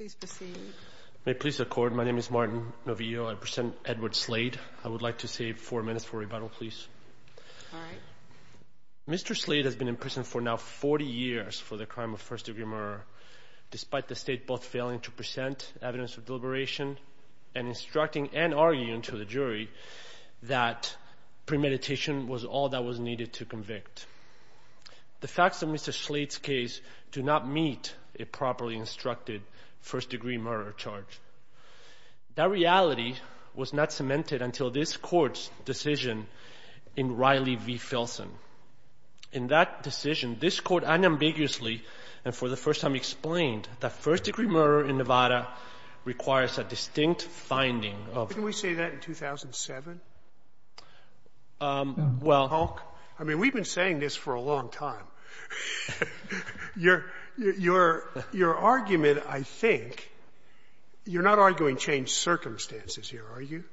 Mr. Slade has been in prison for now 40 years for the crime of first degree murder, despite the state both failing to present evidence of deliberation and instructing and arguing to the jury that premeditation was all that was needed to convict. The facts of Mr. Slade's case do not meet a properly instructed first degree murder charge. That reality was not cemented until this court's decision in Riley v. Filson. In that decision, this court unambiguously and for the first time explained that first degree murder in Nevada requires a distinct finding of the crime of first degree murder. Sotomayor Can we say that in 2007, Hulk? I mean, we've been saying this for a long time. Your argument, I think, you're not arguing changed circumstances here, are you?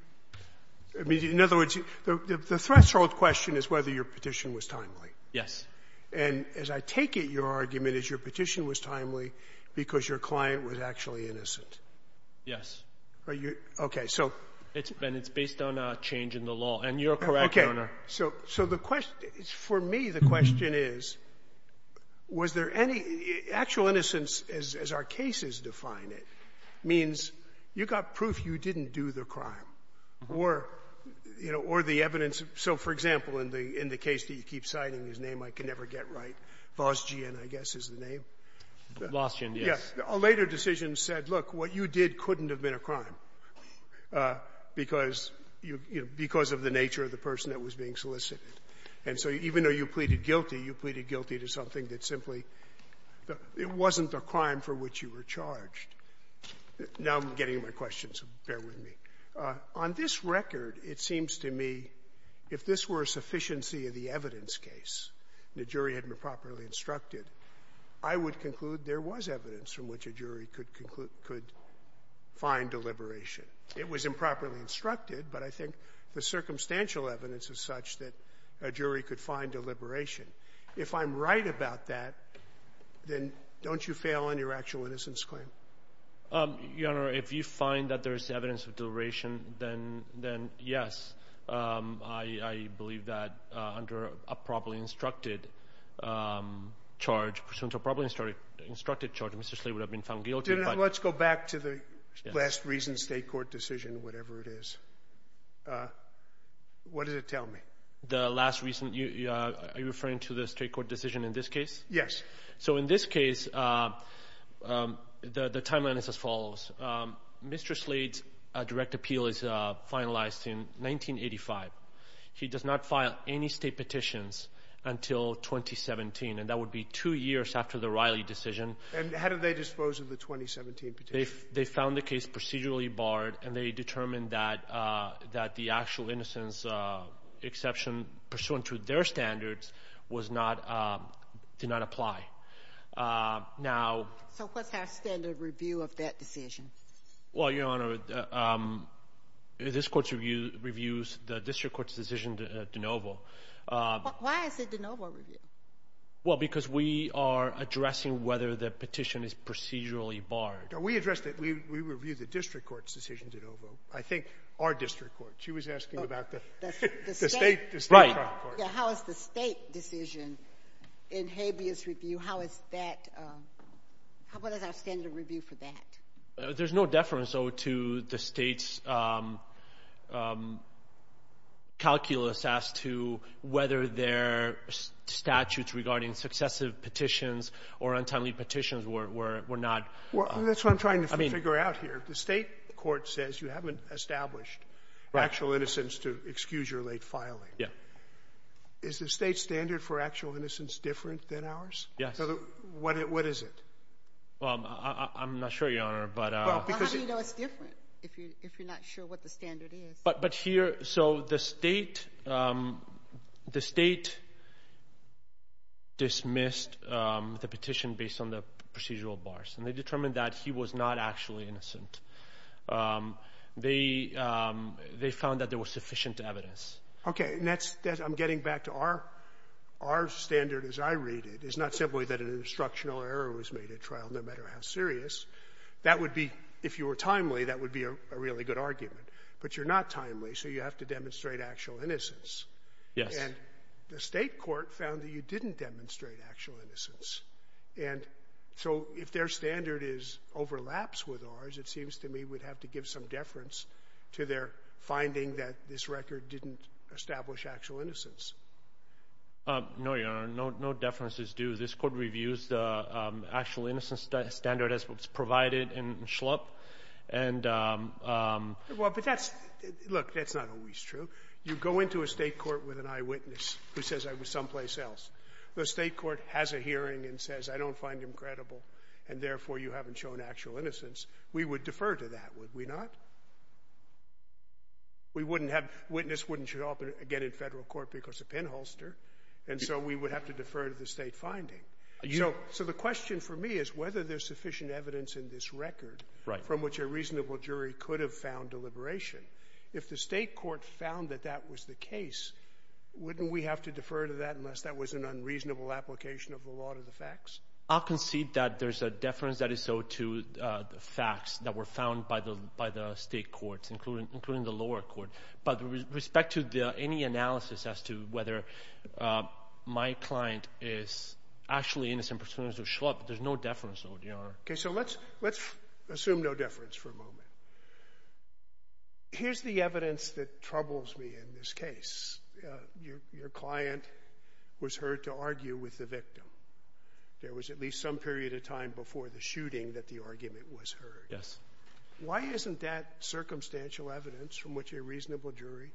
I mean, in other words, the threshold question is whether your petition was timely. Perry Russell Yes. Sotomayor And as I take it, your argument is your petition was timely because your client was actually innocent. Perry Russell Yes. Sotomayor Are you? Okay. So — Perry Russell And it's based on a change in the law. And you're correct, Your Honor. Sotomayor Okay. So the question — for me, the question is, was there any — actual innocence, as our cases define it, means you got proof you didn't do the crime, or, you know, or the evidence. So, for example, in the case that you keep citing, his name, I can never get right, Vosgian, I guess, is the name. Perry Russell Vosgian, yes. A later decision said, look, what you did couldn't have been a crime because — you know, because of the nature of the person that was being solicited. And so even though you pleaded guilty, you pleaded guilty to something that simply — it wasn't the crime for which you were charged. Now I'm getting into my questions, so bear with me. On this record, it seems to me if this were a sufficiency of the evidence case and the jury hadn't been properly instructed, I would conclude there was evidence from which a jury could find a liberation. It was improperly instructed, but I think the circumstantial evidence is such that a jury could find a liberation. If I'm right about that, then don't you fail on your actual innocence claim? Yonar Yonar, if you find that there is evidence of deliberation, then yes. I believe that under a properly instructed charge, pursuant to a properly instructed charge, Mr. Slade would have been found guilty. Let's go back to the last recent state court decision, whatever it is. What does it tell me? The last recent — are you referring to the state court decision in this case? Yes. So in this case, the timeline is as follows. Mr. Slade's direct appeal is finalized in 1985. He does not file any state petitions until 2017, and that would be two years after the Riley decision. And how did they dispose of the 2017 petition? They found the case procedurally barred, and they determined that the actual innocence exception, pursuant to their standards, did not apply. Now — So what's our standard review of that decision? Well, Your Honor, this court's review is the district court's decision de novo. Why is it de novo review? Well, because we are addressing whether the petition is procedurally barred. We addressed it — we reviewed the district court's decision de novo. I think our district court. She was asking about the state trial court. How is the state decision in Habeas' review — how is that — what is our standard review for that? There's no deference, though, to the state's calculus as to whether their statutes regarding successive petitions or untimely petitions were not — Well, that's what I'm trying to figure out here. The state court says you haven't established actual innocence to excuse your late filing. Yeah. Is the state standard for actual innocence different than ours? Yes. What is it? Well, I'm not sure, Your Honor, but — Well, how do you know it's different if you're not sure what the standard is? But here — so the state — the state dismissed the petition based on the procedural bars, and they determined that he was not actually innocent. They found that there was sufficient evidence. Okay, and that's — I'm getting back to our — our standard, as I read it, is not simply that an instructional error was made at trial, no matter how serious. That would be — if you were timely, that would be a really good argument. But you're not timely, so you have to demonstrate actual innocence. Yes. And the state court found that you didn't demonstrate actual innocence. And so if their standard is — overlaps with ours, it seems to me we'd have to give some deference to their finding that this record didn't establish actual innocence. No, Your Honor. No deference is due. This court reviews the actual innocence standard as it's provided in Schlupp. And — Well, but that's — look, that's not always true. You go into a state court with an eyewitness who says I was someplace else. The state court has a hearing and says, I don't find him credible, and therefore you haven't shown actual innocence. We would defer to that, would we not? We wouldn't have — witness wouldn't show up again in federal court because of pinholster. And so we would have to defer to the state finding. So the question for me is whether there's sufficient evidence in this record from which a reasonable jury could have found deliberation. If the state court found that that was the case, wouldn't we have to defer to that unless that was an unreasonable application of the law to the facts? I'll concede that there's a deference that is so to the facts that were found by the state courts, including the lower court. But with respect to the — any analysis as to whether my client is actually innocent pursuant to Schlupp, there's no deference, though, Your Honor. Okay. So let's assume no deference for a moment. Here's the evidence that troubles me in this case. Your client was heard to argue with the victim. There was at least some period of time before the shooting that the argument was heard. Yes. Why isn't that circumstantial evidence from which a reasonable jury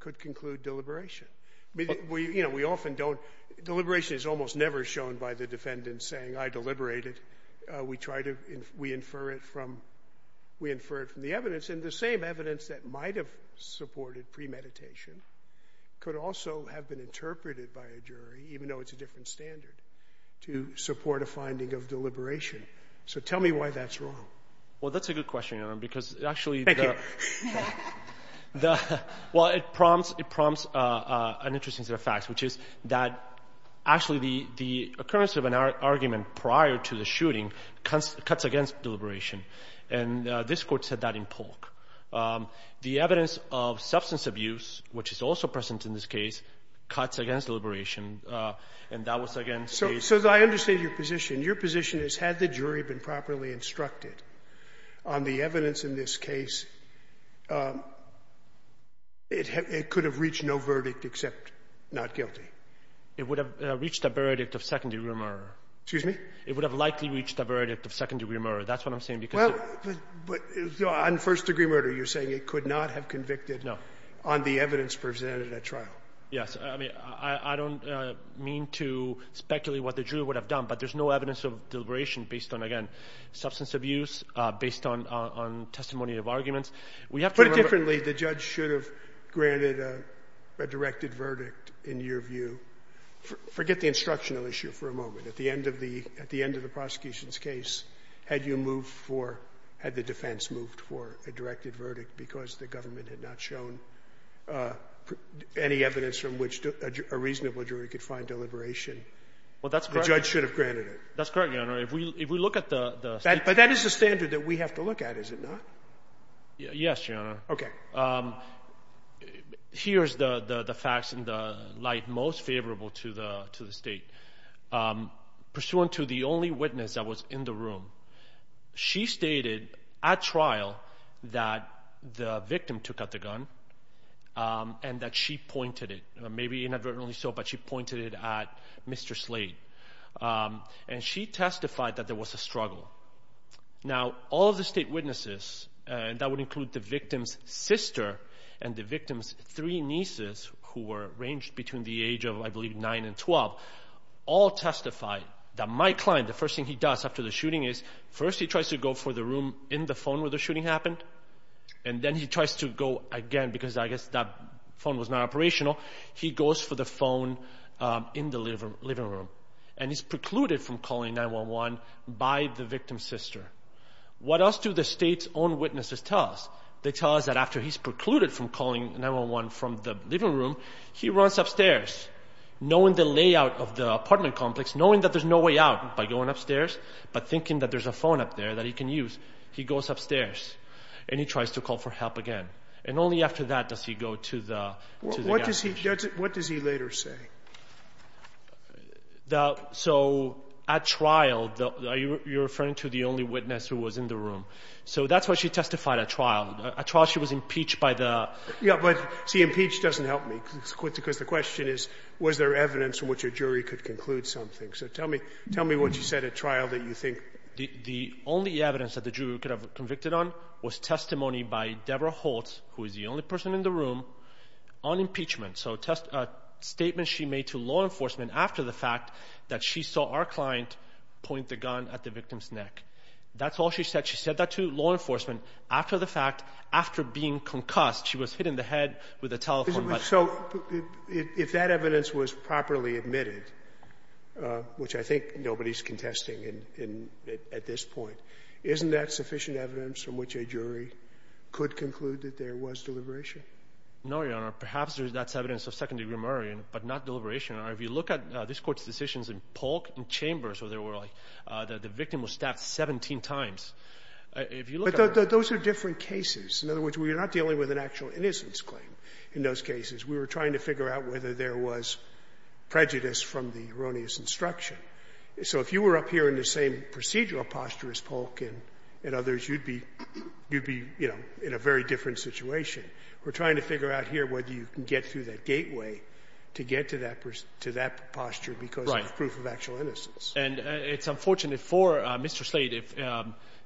could conclude deliberation? I mean, you know, we often don't — deliberation is almost never shown by the defendant saying, I deliberated. We try to — we infer it from — we infer it from the evidence. And the same evidence that might have supported premeditation could also have been interpreted by a jury, even though it's a different standard, to support a finding of deliberation. So tell me why that's wrong. Well, that's a good question, Your Honor, because actually the — Thank you. Well, it prompts — it prompts an interesting set of facts, which is that actually the — the occurrence of an argument prior to the shooting cuts against deliberation. And this Court said that in Polk. The evidence of substance abuse, which is also present in this case, cuts against deliberation, and that was against the — So I understand your position. Your position is, had the jury been properly instructed on the evidence in this case, it could have reached no verdict except not guilty. It would have reached a verdict of second-degree murder. Excuse me? It would have likely reached a verdict of second-degree murder. That's what I'm saying, because — Well, but on first-degree murder, you're saying it could not have convicted — No. — on the evidence presented at trial. Yes. I mean, I don't mean to speculate what the jury would have done, but there's no evidence of deliberation based on, again, substance abuse, based on testimony of arguments. We have to remember — Put it differently. The judge should have granted a directed verdict, in your view. Forget the instructional issue for a moment. At the end of the — at the end of the prosecution's case, had you moved for — had the defense moved for a directed verdict because the government had not shown any evidence from which a reasonable jury could find deliberation, the judge should have granted it. That's correct, Your Honor. If we look at the — But that is the standard that we have to look at, is it not? Yes, Your Honor. OK. Here's the facts in the light most favorable to the state. Pursuant to the only witness that was in the room, she stated at trial that the victim took out the gun and that she pointed it. Maybe inadvertently so, but she pointed it at Mr. Slade. And she testified that there was a struggle. Now, all of the state witnesses, and that would include the victim's sister and the victim's three nieces, who were ranged between the age of, I believe, 9 and 12, all testified that my client, the first thing he does after the shooting is, first he tries to go for the room in the phone where the shooting happened, and then he tries to go again, because I guess that phone was not operational, he goes for the phone in the living room. And he's precluded from calling 911 by the victim's sister. What else do the state's own witnesses tell us? They tell us that after he's precluded from calling 911 from the living room, he runs upstairs, knowing the layout of the apartment complex, knowing that there's no way out by going upstairs, but thinking that there's a phone up there that he can use. He goes upstairs, and he tries to call for help again. And only after that does he go to the — What does he later say? So, at trial, you're referring to the only witness who was in the room. So that's why she testified at trial. At trial, she was impeached by the — Yeah, but, see, impeached doesn't help me, because the question is, was there evidence from which a jury could conclude something? So tell me what you said at trial that you think — The only evidence that the jury could have convicted on was testimony by Deborah Holtz, who is the only person in the room, on impeachment. So a statement she made to law enforcement after the fact that she saw our client point the gun at the victim's neck. That's all she said. She said that to law enforcement after the fact, after being concussed. She was hit in the head with a telephone button. So, if that evidence was properly admitted, which I think nobody's contesting at this point, isn't that sufficient evidence from which a jury could conclude that there was deliberation? No, Your Honor. Perhaps that's evidence of second-degree murder, but not deliberation. If you look at this Court's decisions in Polk and Chambers, where the victim was stabbed 17 times, if you look at — But those are different cases. In other words, we're not dealing with an actual innocence claim in those cases. We were trying to figure out whether there was prejudice from the erroneous instruction. So if you were up here in the same procedural posture as Polk and others, you'd be — you'd be, you know, in a very different situation. We're trying to figure out here whether you can get through that gateway to get to that posture because of proof of actual innocence. And it's unfortunate for Mr. Slade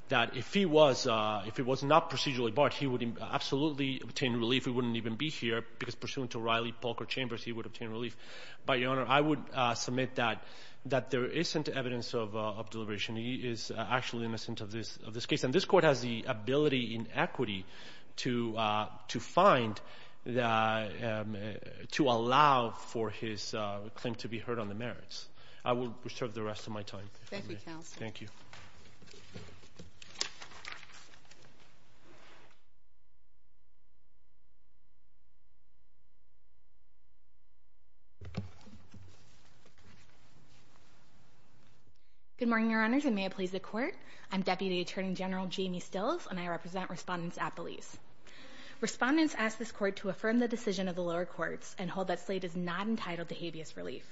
that if he was — if he was not procedurally barred, he would absolutely obtain relief. He wouldn't even be here because, pursuant to Riley, Polk, or Chambers, he would obtain relief. But, Your Honor, I would submit that there isn't evidence of deliberation. He is actually innocent of this case. And this court has the ability in equity to find — to allow for his claim to be heard on the merits. I will reserve the rest of my time. Thank you, Counsel. Thank you. Good morning, Your Honors, and may it please the Court. I'm Deputy Attorney General Jamie Stills, and I represent Respondents at Belize. Respondents ask this Court to affirm the decision of the lower courts and hold that Slade is not entitled to habeas relief.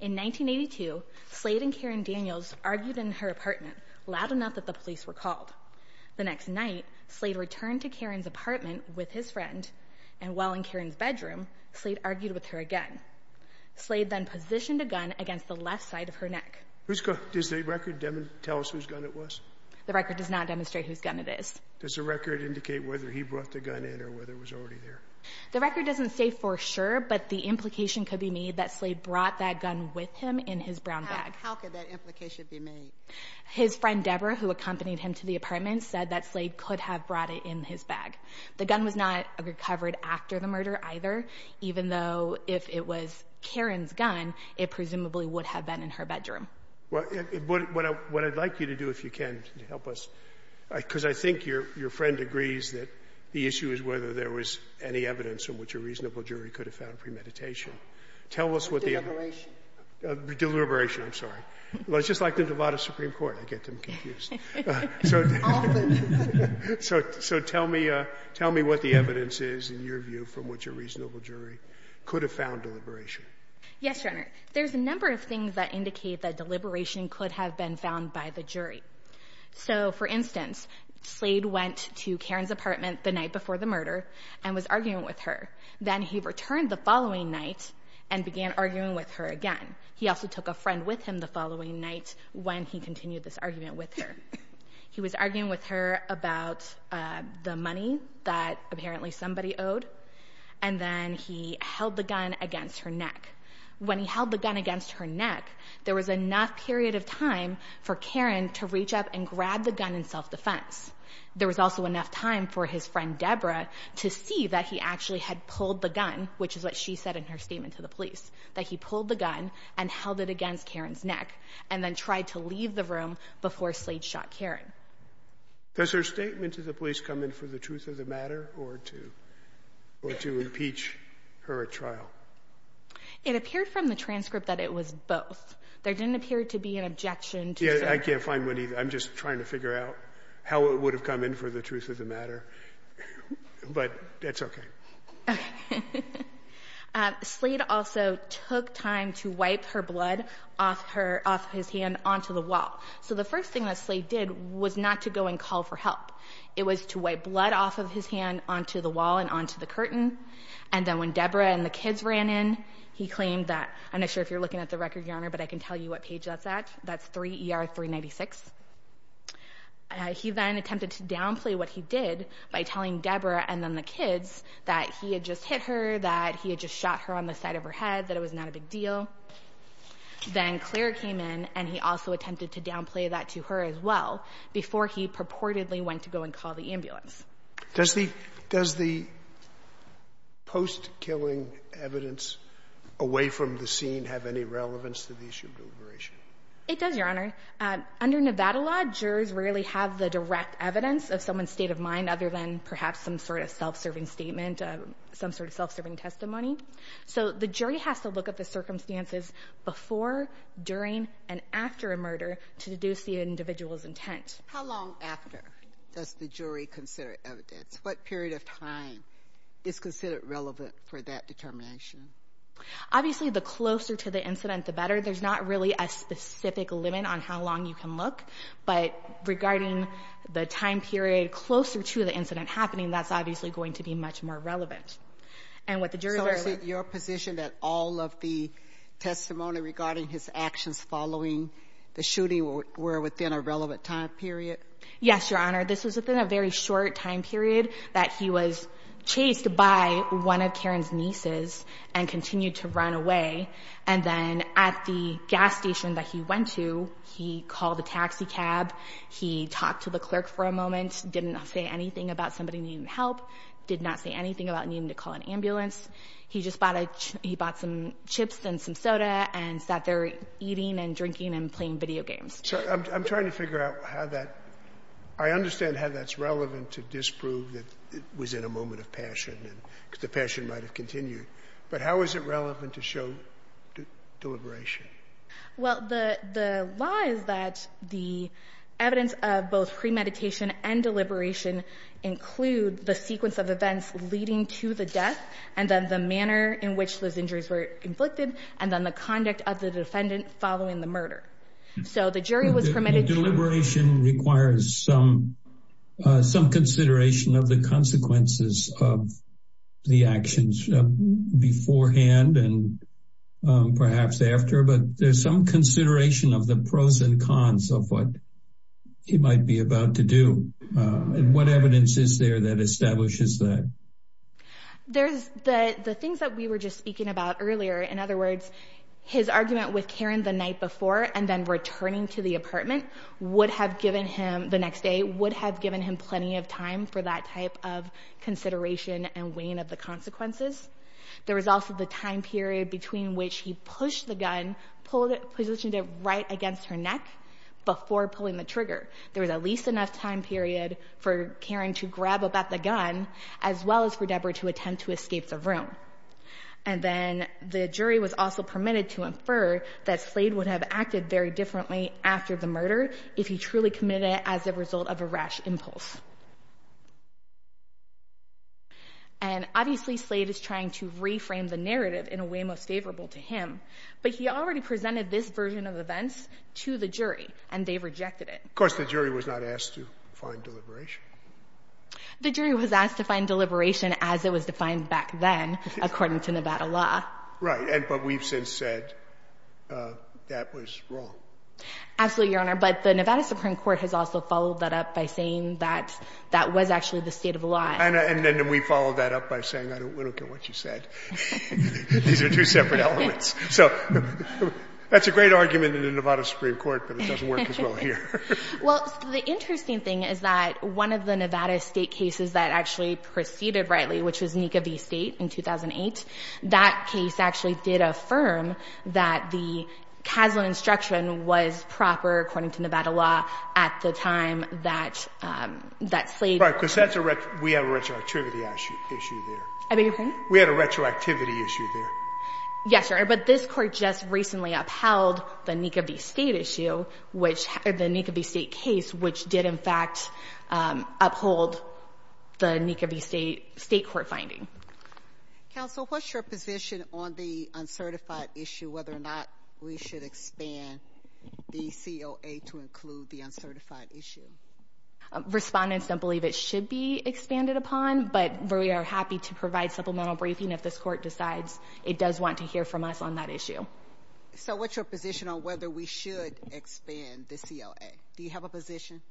In 1982, Slade and Karen Daniels argued in her apartment loud enough that the police were called. The next night, Slade returned to Karen's apartment with his friend, and while in Karen's bedroom, Slade argued with her again. Slade then positioned a gun against the left side of her neck. Whose gun — does the record tell us whose gun it was? The record does not demonstrate whose gun it is. Does the record indicate whether he brought the gun in or whether it was already there? The record doesn't say for sure, but the implication could be made that Slade brought that gun with him in his brown bag. How could that implication be made? His friend, Deborah, who accompanied him to the apartment, said that Slade could have brought it in his bag. The gun was not recovered after the murder either, even though if it was Karen's gun, it presumably would have been in her bedroom. Well, what I'd like you to do, if you can, to help us, because I think your friend agrees that the issue is whether there was any evidence in which a reasonable jury could have found premeditation. Tell us what the evidence — Deliberation. Deliberation. I'm sorry. It's just like the Duvada Supreme Court. I get them confused. So tell me what the evidence is, in your view, from which a reasonable jury could have found deliberation. Yes, Your Honor. There's a number of things that indicate that deliberation could have been found by the jury. So, for instance, Slade went to Karen's apartment the night before the murder and was arguing with her. Then he returned the following night and began arguing with her again. He also took a friend with him the following night when he continued this argument with her. He was arguing with her about the money that apparently somebody owed, and then he held the gun against her neck. When he held the gun against her neck, there was enough period of time for Karen to reach up and grab the gun in self-defense. There was also enough time for his friend Deborah to see that he actually had pulled the gun, which is what she said in her statement to the police, that he pulled the gun and held it against Karen's neck and then tried to leave the room before Slade shot Karen. Does her statement to the police come in for the truth of the matter or to impeach her at trial? It appeared from the transcript that it was both. There didn't appear to be an objection to the... Yeah, I can't find one either. I'm just trying to figure out how it would have come in for the truth of the matter. But that's okay. Okay. Slade also took time to wipe her blood off his hand onto the wall. So the first thing that Slade did was not to go and call for help. It was to wipe blood off of his hand onto the wall and onto the curtain. And then when Deborah and the kids ran in, he claimed that... I'm not sure if you're looking at the record, Your Honor, but I can tell you what page that's at. That's 3 ER 396. He then attempted to downplay what he did by telling Deborah and then the kids that he had just hit her, that he had just shot her on the side of her head, that it was not a big deal. Then Claire came in and he also attempted to downplay that to her as well before he purportedly went to go and call the ambulance. Does the post-killing evidence away from the scene have any relevance to the issue of deliberation? It does, Your Honor. Under Nevada law, jurors rarely have the direct evidence of someone's state of mind other than perhaps some sort of self-serving statement, some sort of self-serving testimony. So the jury has to look at the circumstances before, during, and after a murder to deduce the individual's intent. How long after does the jury consider evidence? What period of time is considered relevant for that determination? Obviously, the closer to the incident, the better. There's not really a specific limit on how long you can look, but regarding the time period closer to the incident happening, that's obviously going to be much more relevant. So is it your position that all of the testimony regarding his actions following the shooting were within a relevant time period? Yes, Your Honor. This was within a very short time period that he was chased by one of Karen's nieces and continued to run away. And then at the gas station that he went to, he called a taxi cab, he talked to the clerk for a moment, didn't say anything about somebody needing help, did not say anything about needing to call an ambulance. He just bought a chip – he bought some chips and some soda and sat there eating and drinking and playing video games. I'm trying to figure out how that – I understand how that's relevant to disprove that it was in a moment of passion and the passion might have continued. But how is it relevant to show deliberation? Well, the law is that the evidence of both premeditation and deliberation include the sequence of events leading to the death and then the manner in which those injuries were inflicted and then the conduct of the defendant following the murder. So the jury was permitted to – Deliberation requires some consideration of the consequences of the actions beforehand and perhaps after, but there's some consideration of the pros and cons of what he might be about to do. And what evidence is there that establishes that? There's the things that we were just speaking about earlier. In other words, his argument with Karen the night before and then returning to the apartment would have given him – the next day would have given him plenty of time for that type of consideration and weighing of the consequences. There was also the time period between which he pushed the gun, positioned it right against her neck before pulling the trigger. There was at least enough time period for Karen to grab up at the gun as well as for Deborah to attempt to escape the room. And then the jury was also permitted to infer that Slade would have acted very differently after the murder if he truly committed it as a result of a rash impulse. And obviously Slade is trying to reframe the narrative in a way most favorable to him. But he already presented this version of events to the jury, and they rejected it. Of course, the jury was not asked to find deliberation. The jury was asked to find deliberation as it was defined back then, according to Nevada law. Right, but we've since said that was wrong. Absolutely, Your Honor. But the Nevada Supreme Court has also followed that up by saying that that was actually the state of the law. And then we followed that up by saying, I don't care what you said. These are two separate elements. So that's a great argument in the Nevada Supreme Court, but it doesn't work as well here. Well, the interesting thing is that one of the Nevada state cases that actually proceeded rightly, which was NECA v. State in 2008, that case actually did affirm that the casual instruction was proper, according to Nevada law, at the time that Slade... I beg your pardon? We had a retroactivity issue there. Yes, Your Honor, but this court just recently upheld the NECA v. State issue, or the NECA v. State case, which did in fact uphold the NECA v. State court finding. Counsel, what's your position on the uncertified issue, whether or not we should expand the COA to include the uncertified issue? Respondents don't believe it should be expanded upon, but we are happy to provide supplemental briefing if this court decides it does want to hear from us on that issue. So what's your position on whether we should expand the COA? Do you have a position?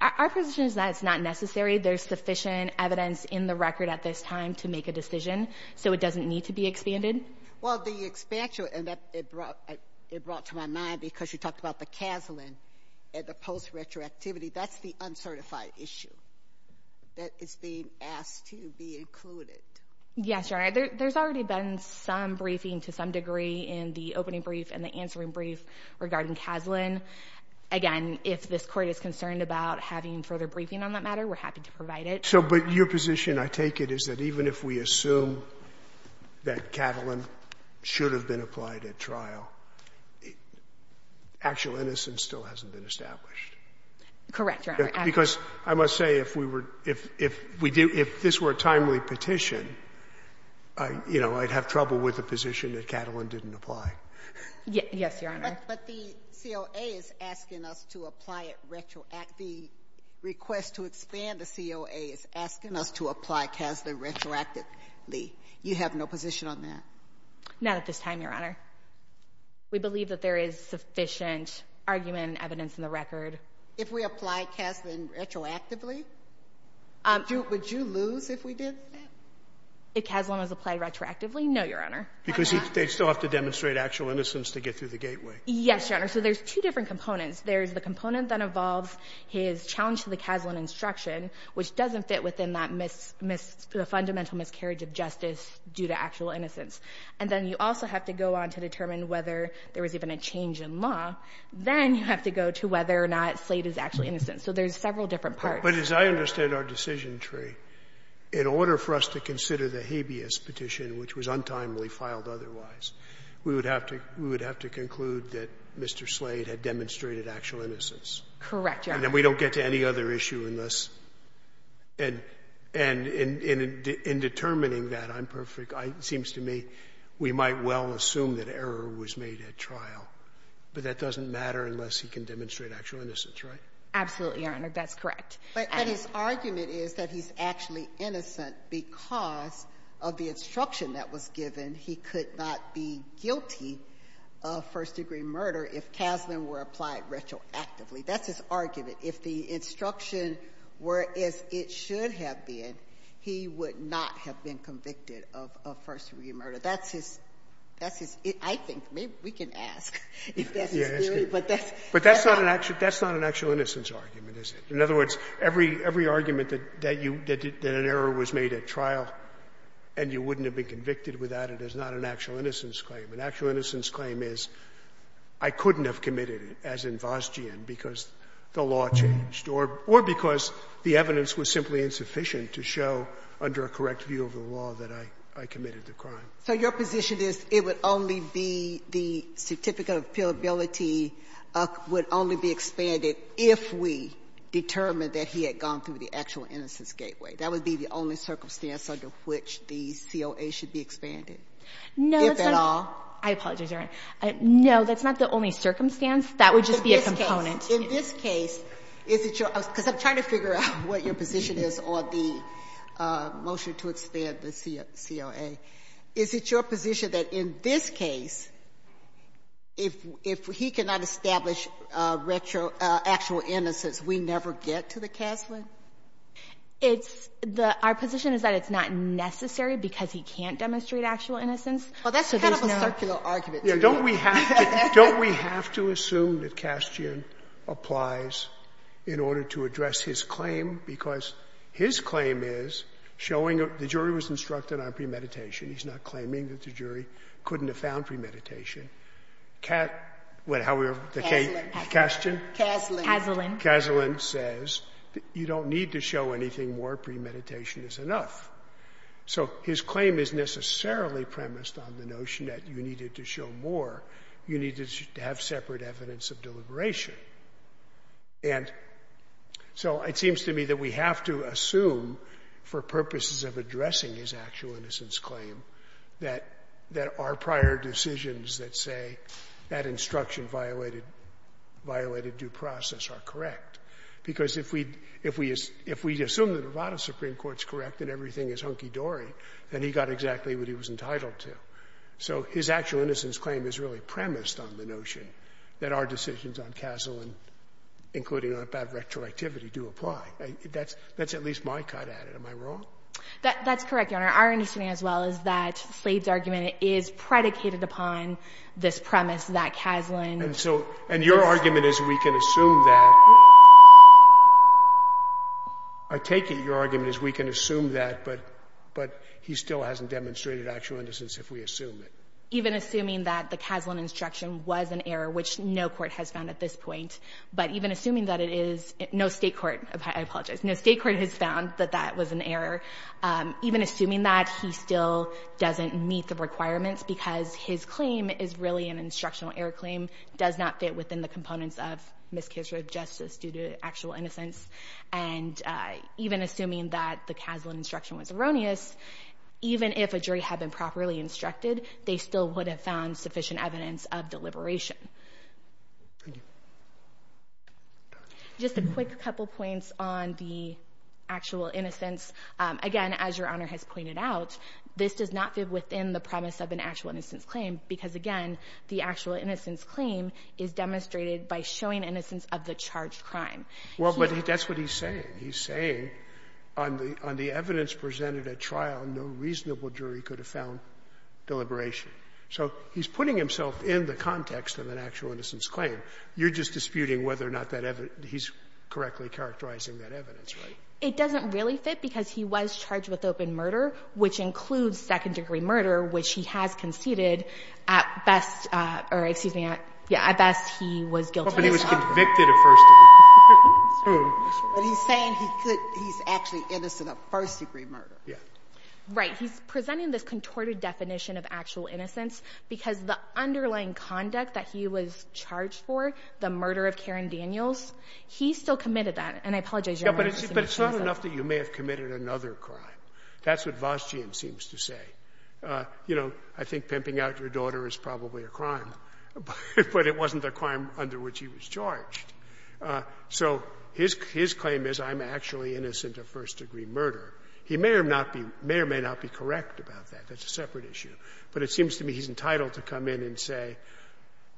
Our position is that it's not necessary. There's sufficient evidence in the record at this time to make a decision, so it doesn't need to be expanded. Well, the expansion, and it brought to my mind, because you talked about the casual and the post-retroactivity, that's the uncertified issue that is being asked to be included. Yes, Your Honor. There's already been some briefing, to some degree, in the opening brief and the answering brief regarding Kaslan. Again, if this court is concerned about having further briefing on that matter, we're happy to provide it. But your position, I take it, is that even if we assume that Kaslan should have been applied at trial, actual innocence still hasn't been established. Correct, Your Honor. Because I must say, if this were a timely petition, you know, I'd have trouble with the position that Kaslan didn't apply. Yes, Your Honor. But the COA is asking us to apply it retroactively. The request to expand the COA is asking us to apply Kaslan retroactively. You have no position on that? Not at this time, Your Honor. We believe that there is sufficient argument and evidence in the record. If we apply Kaslan retroactively, would you lose if we did that? If Kaslan was applied retroactively? No, Your Honor. Because they'd still have to demonstrate actual innocence to get through the gateway. Yes, Your Honor. So there's two different components. There's the component that involves his challenge to the Kaslan instruction, which doesn't fit within that fundamental miscarriage of justice due to actual innocence. And then you also have to go on to determine whether there was even a change in law. Then you have to go to whether or not Slade is actually innocent. So there's several different parts. But as I understand our decision, Trey, in order for us to consider the habeas petition, which was untimely filed otherwise, we would have to conclude that Mr. Slade had demonstrated actual innocence. Correct, Your Honor. And that we don't get to any other issue unless. And in determining that, I'm perfect. It seems to me we might well assume that error was made at trial. But that doesn't matter unless he can demonstrate actual innocence, right? Absolutely, Your Honor. That's correct. But his argument is that he's actually innocent because of the instruction that was given he could not be guilty of first-degree murder if Kaslan were applied retroactively. That's his argument. If the instruction were as it should have been, he would not have been convicted of first-degree murder. That's his, I think, maybe we can ask if that's his theory. But that's not an actual innocence argument, is it? In other words, every argument that an error was made at trial and you wouldn't have been convicted without it is not an actual innocence claim. An actual innocence claim is I couldn't have committed it, as in Vosgian, because the law changed or because the evidence was simply insufficient to show under a correct view of the law that I committed the crime. So your position is it would only be the certificate of appealability would only be expanded if we determined that he had gone through the actual innocence gateway. That would be the only circumstance under which the COA should be expanded, if at all? No, that's not the only circumstance. That would just be a component. In this case, is it your – because I'm trying to figure out what your position is on the motion to expand the COA. Is it your position that in this case, if he cannot establish retroactual innocence, we never get to the CASLA? It's the – our position is that it's not necessary because he can't demonstrate actual innocence. Well, that's kind of a circular argument. Don't we have to assume that Castian applies in order to address his claim? Because his claim is showing – the jury was instructed on premeditation. He's not claiming that the jury couldn't have found premeditation. However, the case – Kaslan. Kaslan? Kaslan. Kaslan says that you don't need to show anything more. Premeditation is enough. So his claim is necessarily premised on the notion that you needed to show more. You needed to have separate evidence of deliberation. And so it seems to me that we have to assume, for purposes of addressing his actual innocence claim, that our prior decisions that say that instruction violated due process are correct. Because if we – if we assume the Nevada Supreme Court's correct and everything is hunky-dory, then he got exactly what he was entitled to. So his actual innocence claim is really premised on the notion that our decisions on Kaslan, including on a bad retroactivity, do apply. That's at least my cut at it. Am I wrong? That's correct, Your Honor. Our understanding as well is that the Slade's argument is predicated upon this premise that Kaslan – And so – and your argument is we can assume that. I take it your argument is we can assume that, but he still hasn't demonstrated actual innocence if we assume it. Even assuming that the Kaslan instruction was an error, which no court has found at this point, but even assuming that it is – no State court. I apologize. No State court has found that that was an error. Even assuming that, he still doesn't meet the requirements because his claim is really an instructional error claim, does not fit within the components of miscarriage of justice due to actual innocence. And even assuming that the Kaslan instruction was erroneous, even if a jury had been properly instructed, they still would have found sufficient evidence of deliberation. Thank you. Just a quick couple points on the actual innocence. Again, as your Honor has pointed out, this does not fit within the premise of an actual innocence claim is demonstrated by showing innocence of the charged crime. Well, but that's what he's saying. He's saying on the evidence presented at trial, no reasonable jury could have found deliberation. So he's putting himself in the context of an actual innocence claim. You're just disputing whether or not that evidence – he's correctly characterizing that evidence, right? It doesn't really fit because he was charged with open murder, which includes second-degree murder, which he has conceded at best or, excuse me, yeah, at best he was guilty of second-degree murder. But he was convicted of first-degree murder. But he's saying he could – he's actually innocent of first-degree murder. Yeah. Right. He's presenting this contorted definition of actual innocence because the underlying conduct that he was charged for, the murder of Karen Daniels, he still committed that. And I apologize, Your Honor. But it's not enough that you may have committed another crime. That's what Vostian seems to say. You know, I think pimping out your daughter is probably a crime, but it wasn't a crime under which he was charged. So his claim is I'm actually innocent of first-degree murder. He may or may not be correct about that. That's a separate issue. But it seems to me he's entitled to come in and say,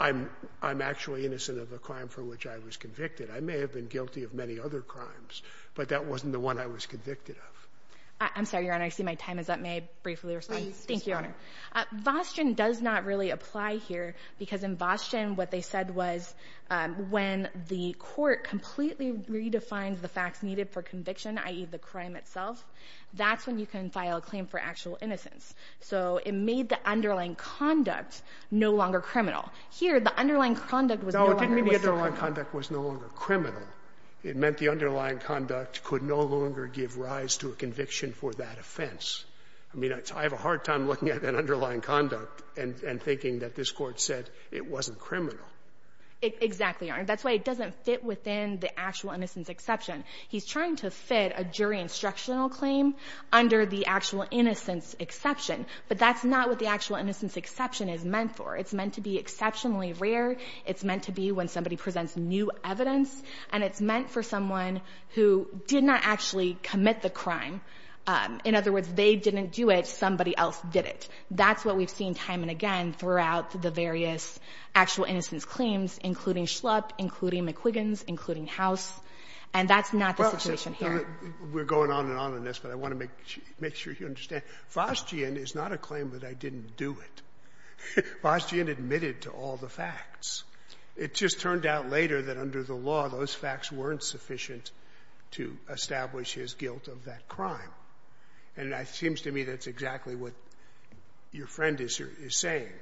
I'm actually innocent of a crime for which I was convicted. I may have been guilty of many other crimes, but that wasn't the one I was convicted of. I'm sorry, Your Honor. I see my time is up. May I briefly respond? Please. Thank you, Your Honor. Vostian does not really apply here because in Vostian what they said was when the court completely redefined the facts needed for conviction, i.e., the crime itself, that's when you can file a claim for actual innocence. So it made the underlying conduct no longer criminal. Here, the underlying conduct was no longer criminal. No, it didn't mean the underlying conduct was no longer criminal. It meant the underlying conduct could no longer give rise to a conviction for that offense. I mean, I have a hard time looking at an underlying conduct and thinking that this Court said it wasn't criminal. Exactly, Your Honor. That's why it doesn't fit within the actual innocence exception. He's trying to fit a jury instructional claim under the actual innocence exception. But that's not what the actual innocence exception is meant for. It's meant to be exceptionally rare. It's meant to be when somebody presents new evidence. And it's meant for someone who did not actually commit the crime. In other words, they didn't do it. Somebody else did it. That's what we've seen time and again throughout the various actual innocence claims, including Schlupp, including McQuiggins, including House. And that's not the situation here. Well, we're going on and on in this, but I want to make sure you understand. Vostian is not a claim that I didn't do it. Vostian admitted to all the facts. It just turned out later that under the law, those facts weren't sufficient to establish his guilt of that crime. And it seems to me that's exactly what your friend is saying,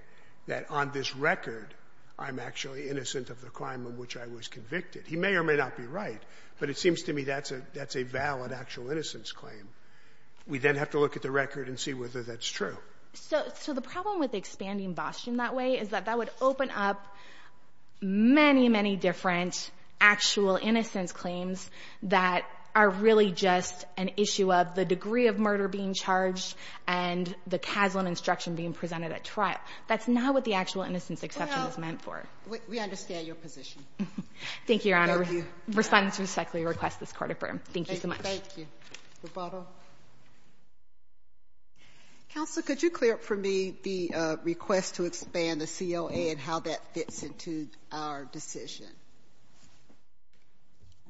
that on this record, I'm actually innocent of the crime in which I was convicted. He may or may not be right, but it seems to me that's a valid actual innocence claim. We then have to look at the record and see whether that's true. So the problem with expanding Vostian that way is that that would open up many, many different actual innocence claims that are really just an issue of the degree of murder being charged and the casual instruction being presented at trial. That's not what the actual innocence exception is meant for. Well, we understand your position. Thank you, Your Honor. Respondents respectfully request this court affirm. Thank you so much. Thank you. Counsel, could you clear up for me the request to expand the COA and how that fits into our decision?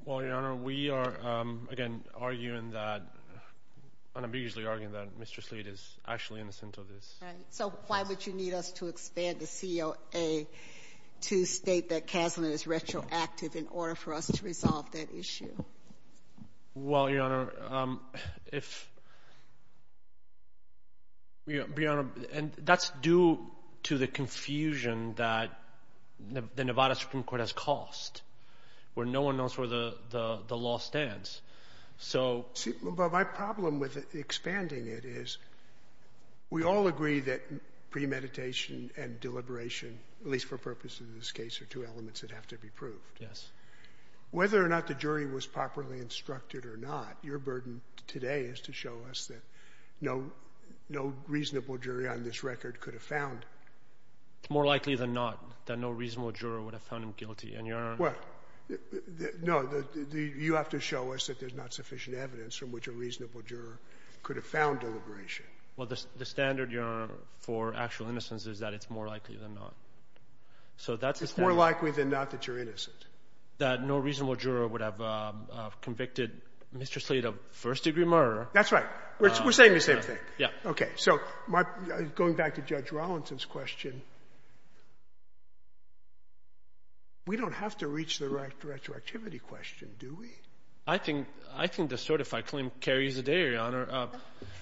Well, Your Honor, we are, again, arguing that, unambiguously arguing that Mr. Slade is actually innocent of this. Right. So why would you need us to expand the COA to state that Kaslan is retroactive in order for us to resolve that issue? Well, Your Honor, that's due to the confusion that the Nevada Supreme Court has caused where no one knows where the law stands. But my problem with expanding it is we all agree that premeditation and deliberation, at least for purposes of this case, are two elements that have to be proved. Yes. Whether or not the jury was properly instructed or not, your burden today is to show us that no reasonable jury on this record could have found him. It's more likely than not that no reasonable juror would have found him guilty. What? No, you have to show us that there's not sufficient evidence from which a reasonable juror could have found deliberation. Well, the standard, Your Honor, for actual innocence is that it's more likely than not. It's more likely than not that you're innocent? That no reasonable juror would have convicted Mr. Slater of first-degree murder. That's right. We're saying the same thing. Yes. Okay. So going back to Judge Rollinson's question, we don't have to reach the retroactivity question, do we? I think the certified claim carries the day, Your Honor.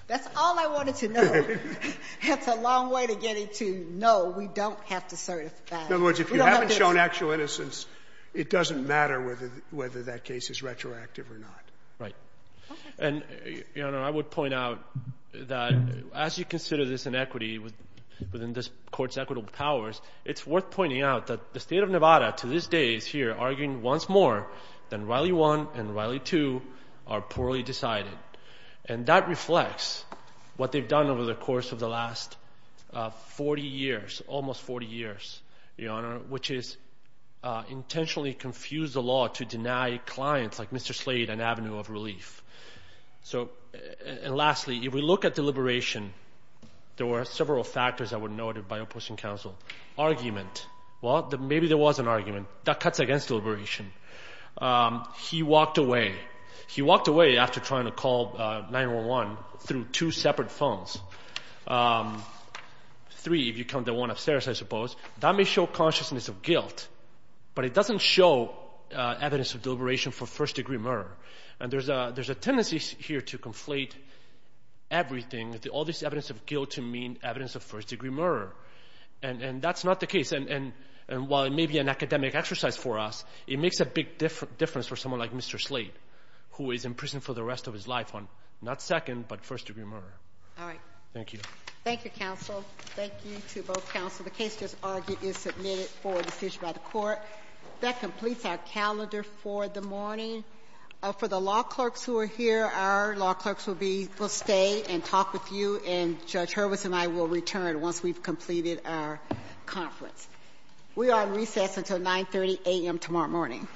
That's all I wanted to know. It's a long way to getting to, no, we don't have to certify. In other words, if you haven't shown actual innocence, it doesn't matter whether that case is retroactive or not. Right. And, Your Honor, I would point out that as you consider this inequity within this Court's equitable powers, it's worth pointing out that the State of Nevada to this day is here arguing once more that Riley 1 and Riley 2 are poorly decided, and that reflects what they've done over the course of the last 40 years, almost 40 years, Your Honor, which is intentionally confuse the law to deny clients like Mr. Slater an avenue of relief. And lastly, if we look at deliberation, there were several factors that were noted by opposing counsel. Argument. Well, maybe there was an argument. That cuts against deliberation. He walked away. He walked away after trying to call 911 through two separate phones, three if you count the one upstairs, I suppose. That may show consciousness of guilt, but it doesn't show evidence of deliberation for first degree murder. And there's a tendency here to conflate everything, all this evidence of guilt to mean evidence of first degree murder. And that's not the case. And while it may be an academic exercise for us, it makes a big difference for someone like Mr. Slater, who is in prison for the rest of his life on not second, but first degree murder. All right. Thank you. Thank you, counsel. Thank you to both counsel. The case just argued is submitted for decision by the court. That completes our calendar for the morning. For the law clerks who are here, our law clerks will be able to stay and talk with you and judge Hurwitz and I will return once we've completed our conference. We are recessed until 9 30 a.m. Tomorrow morning.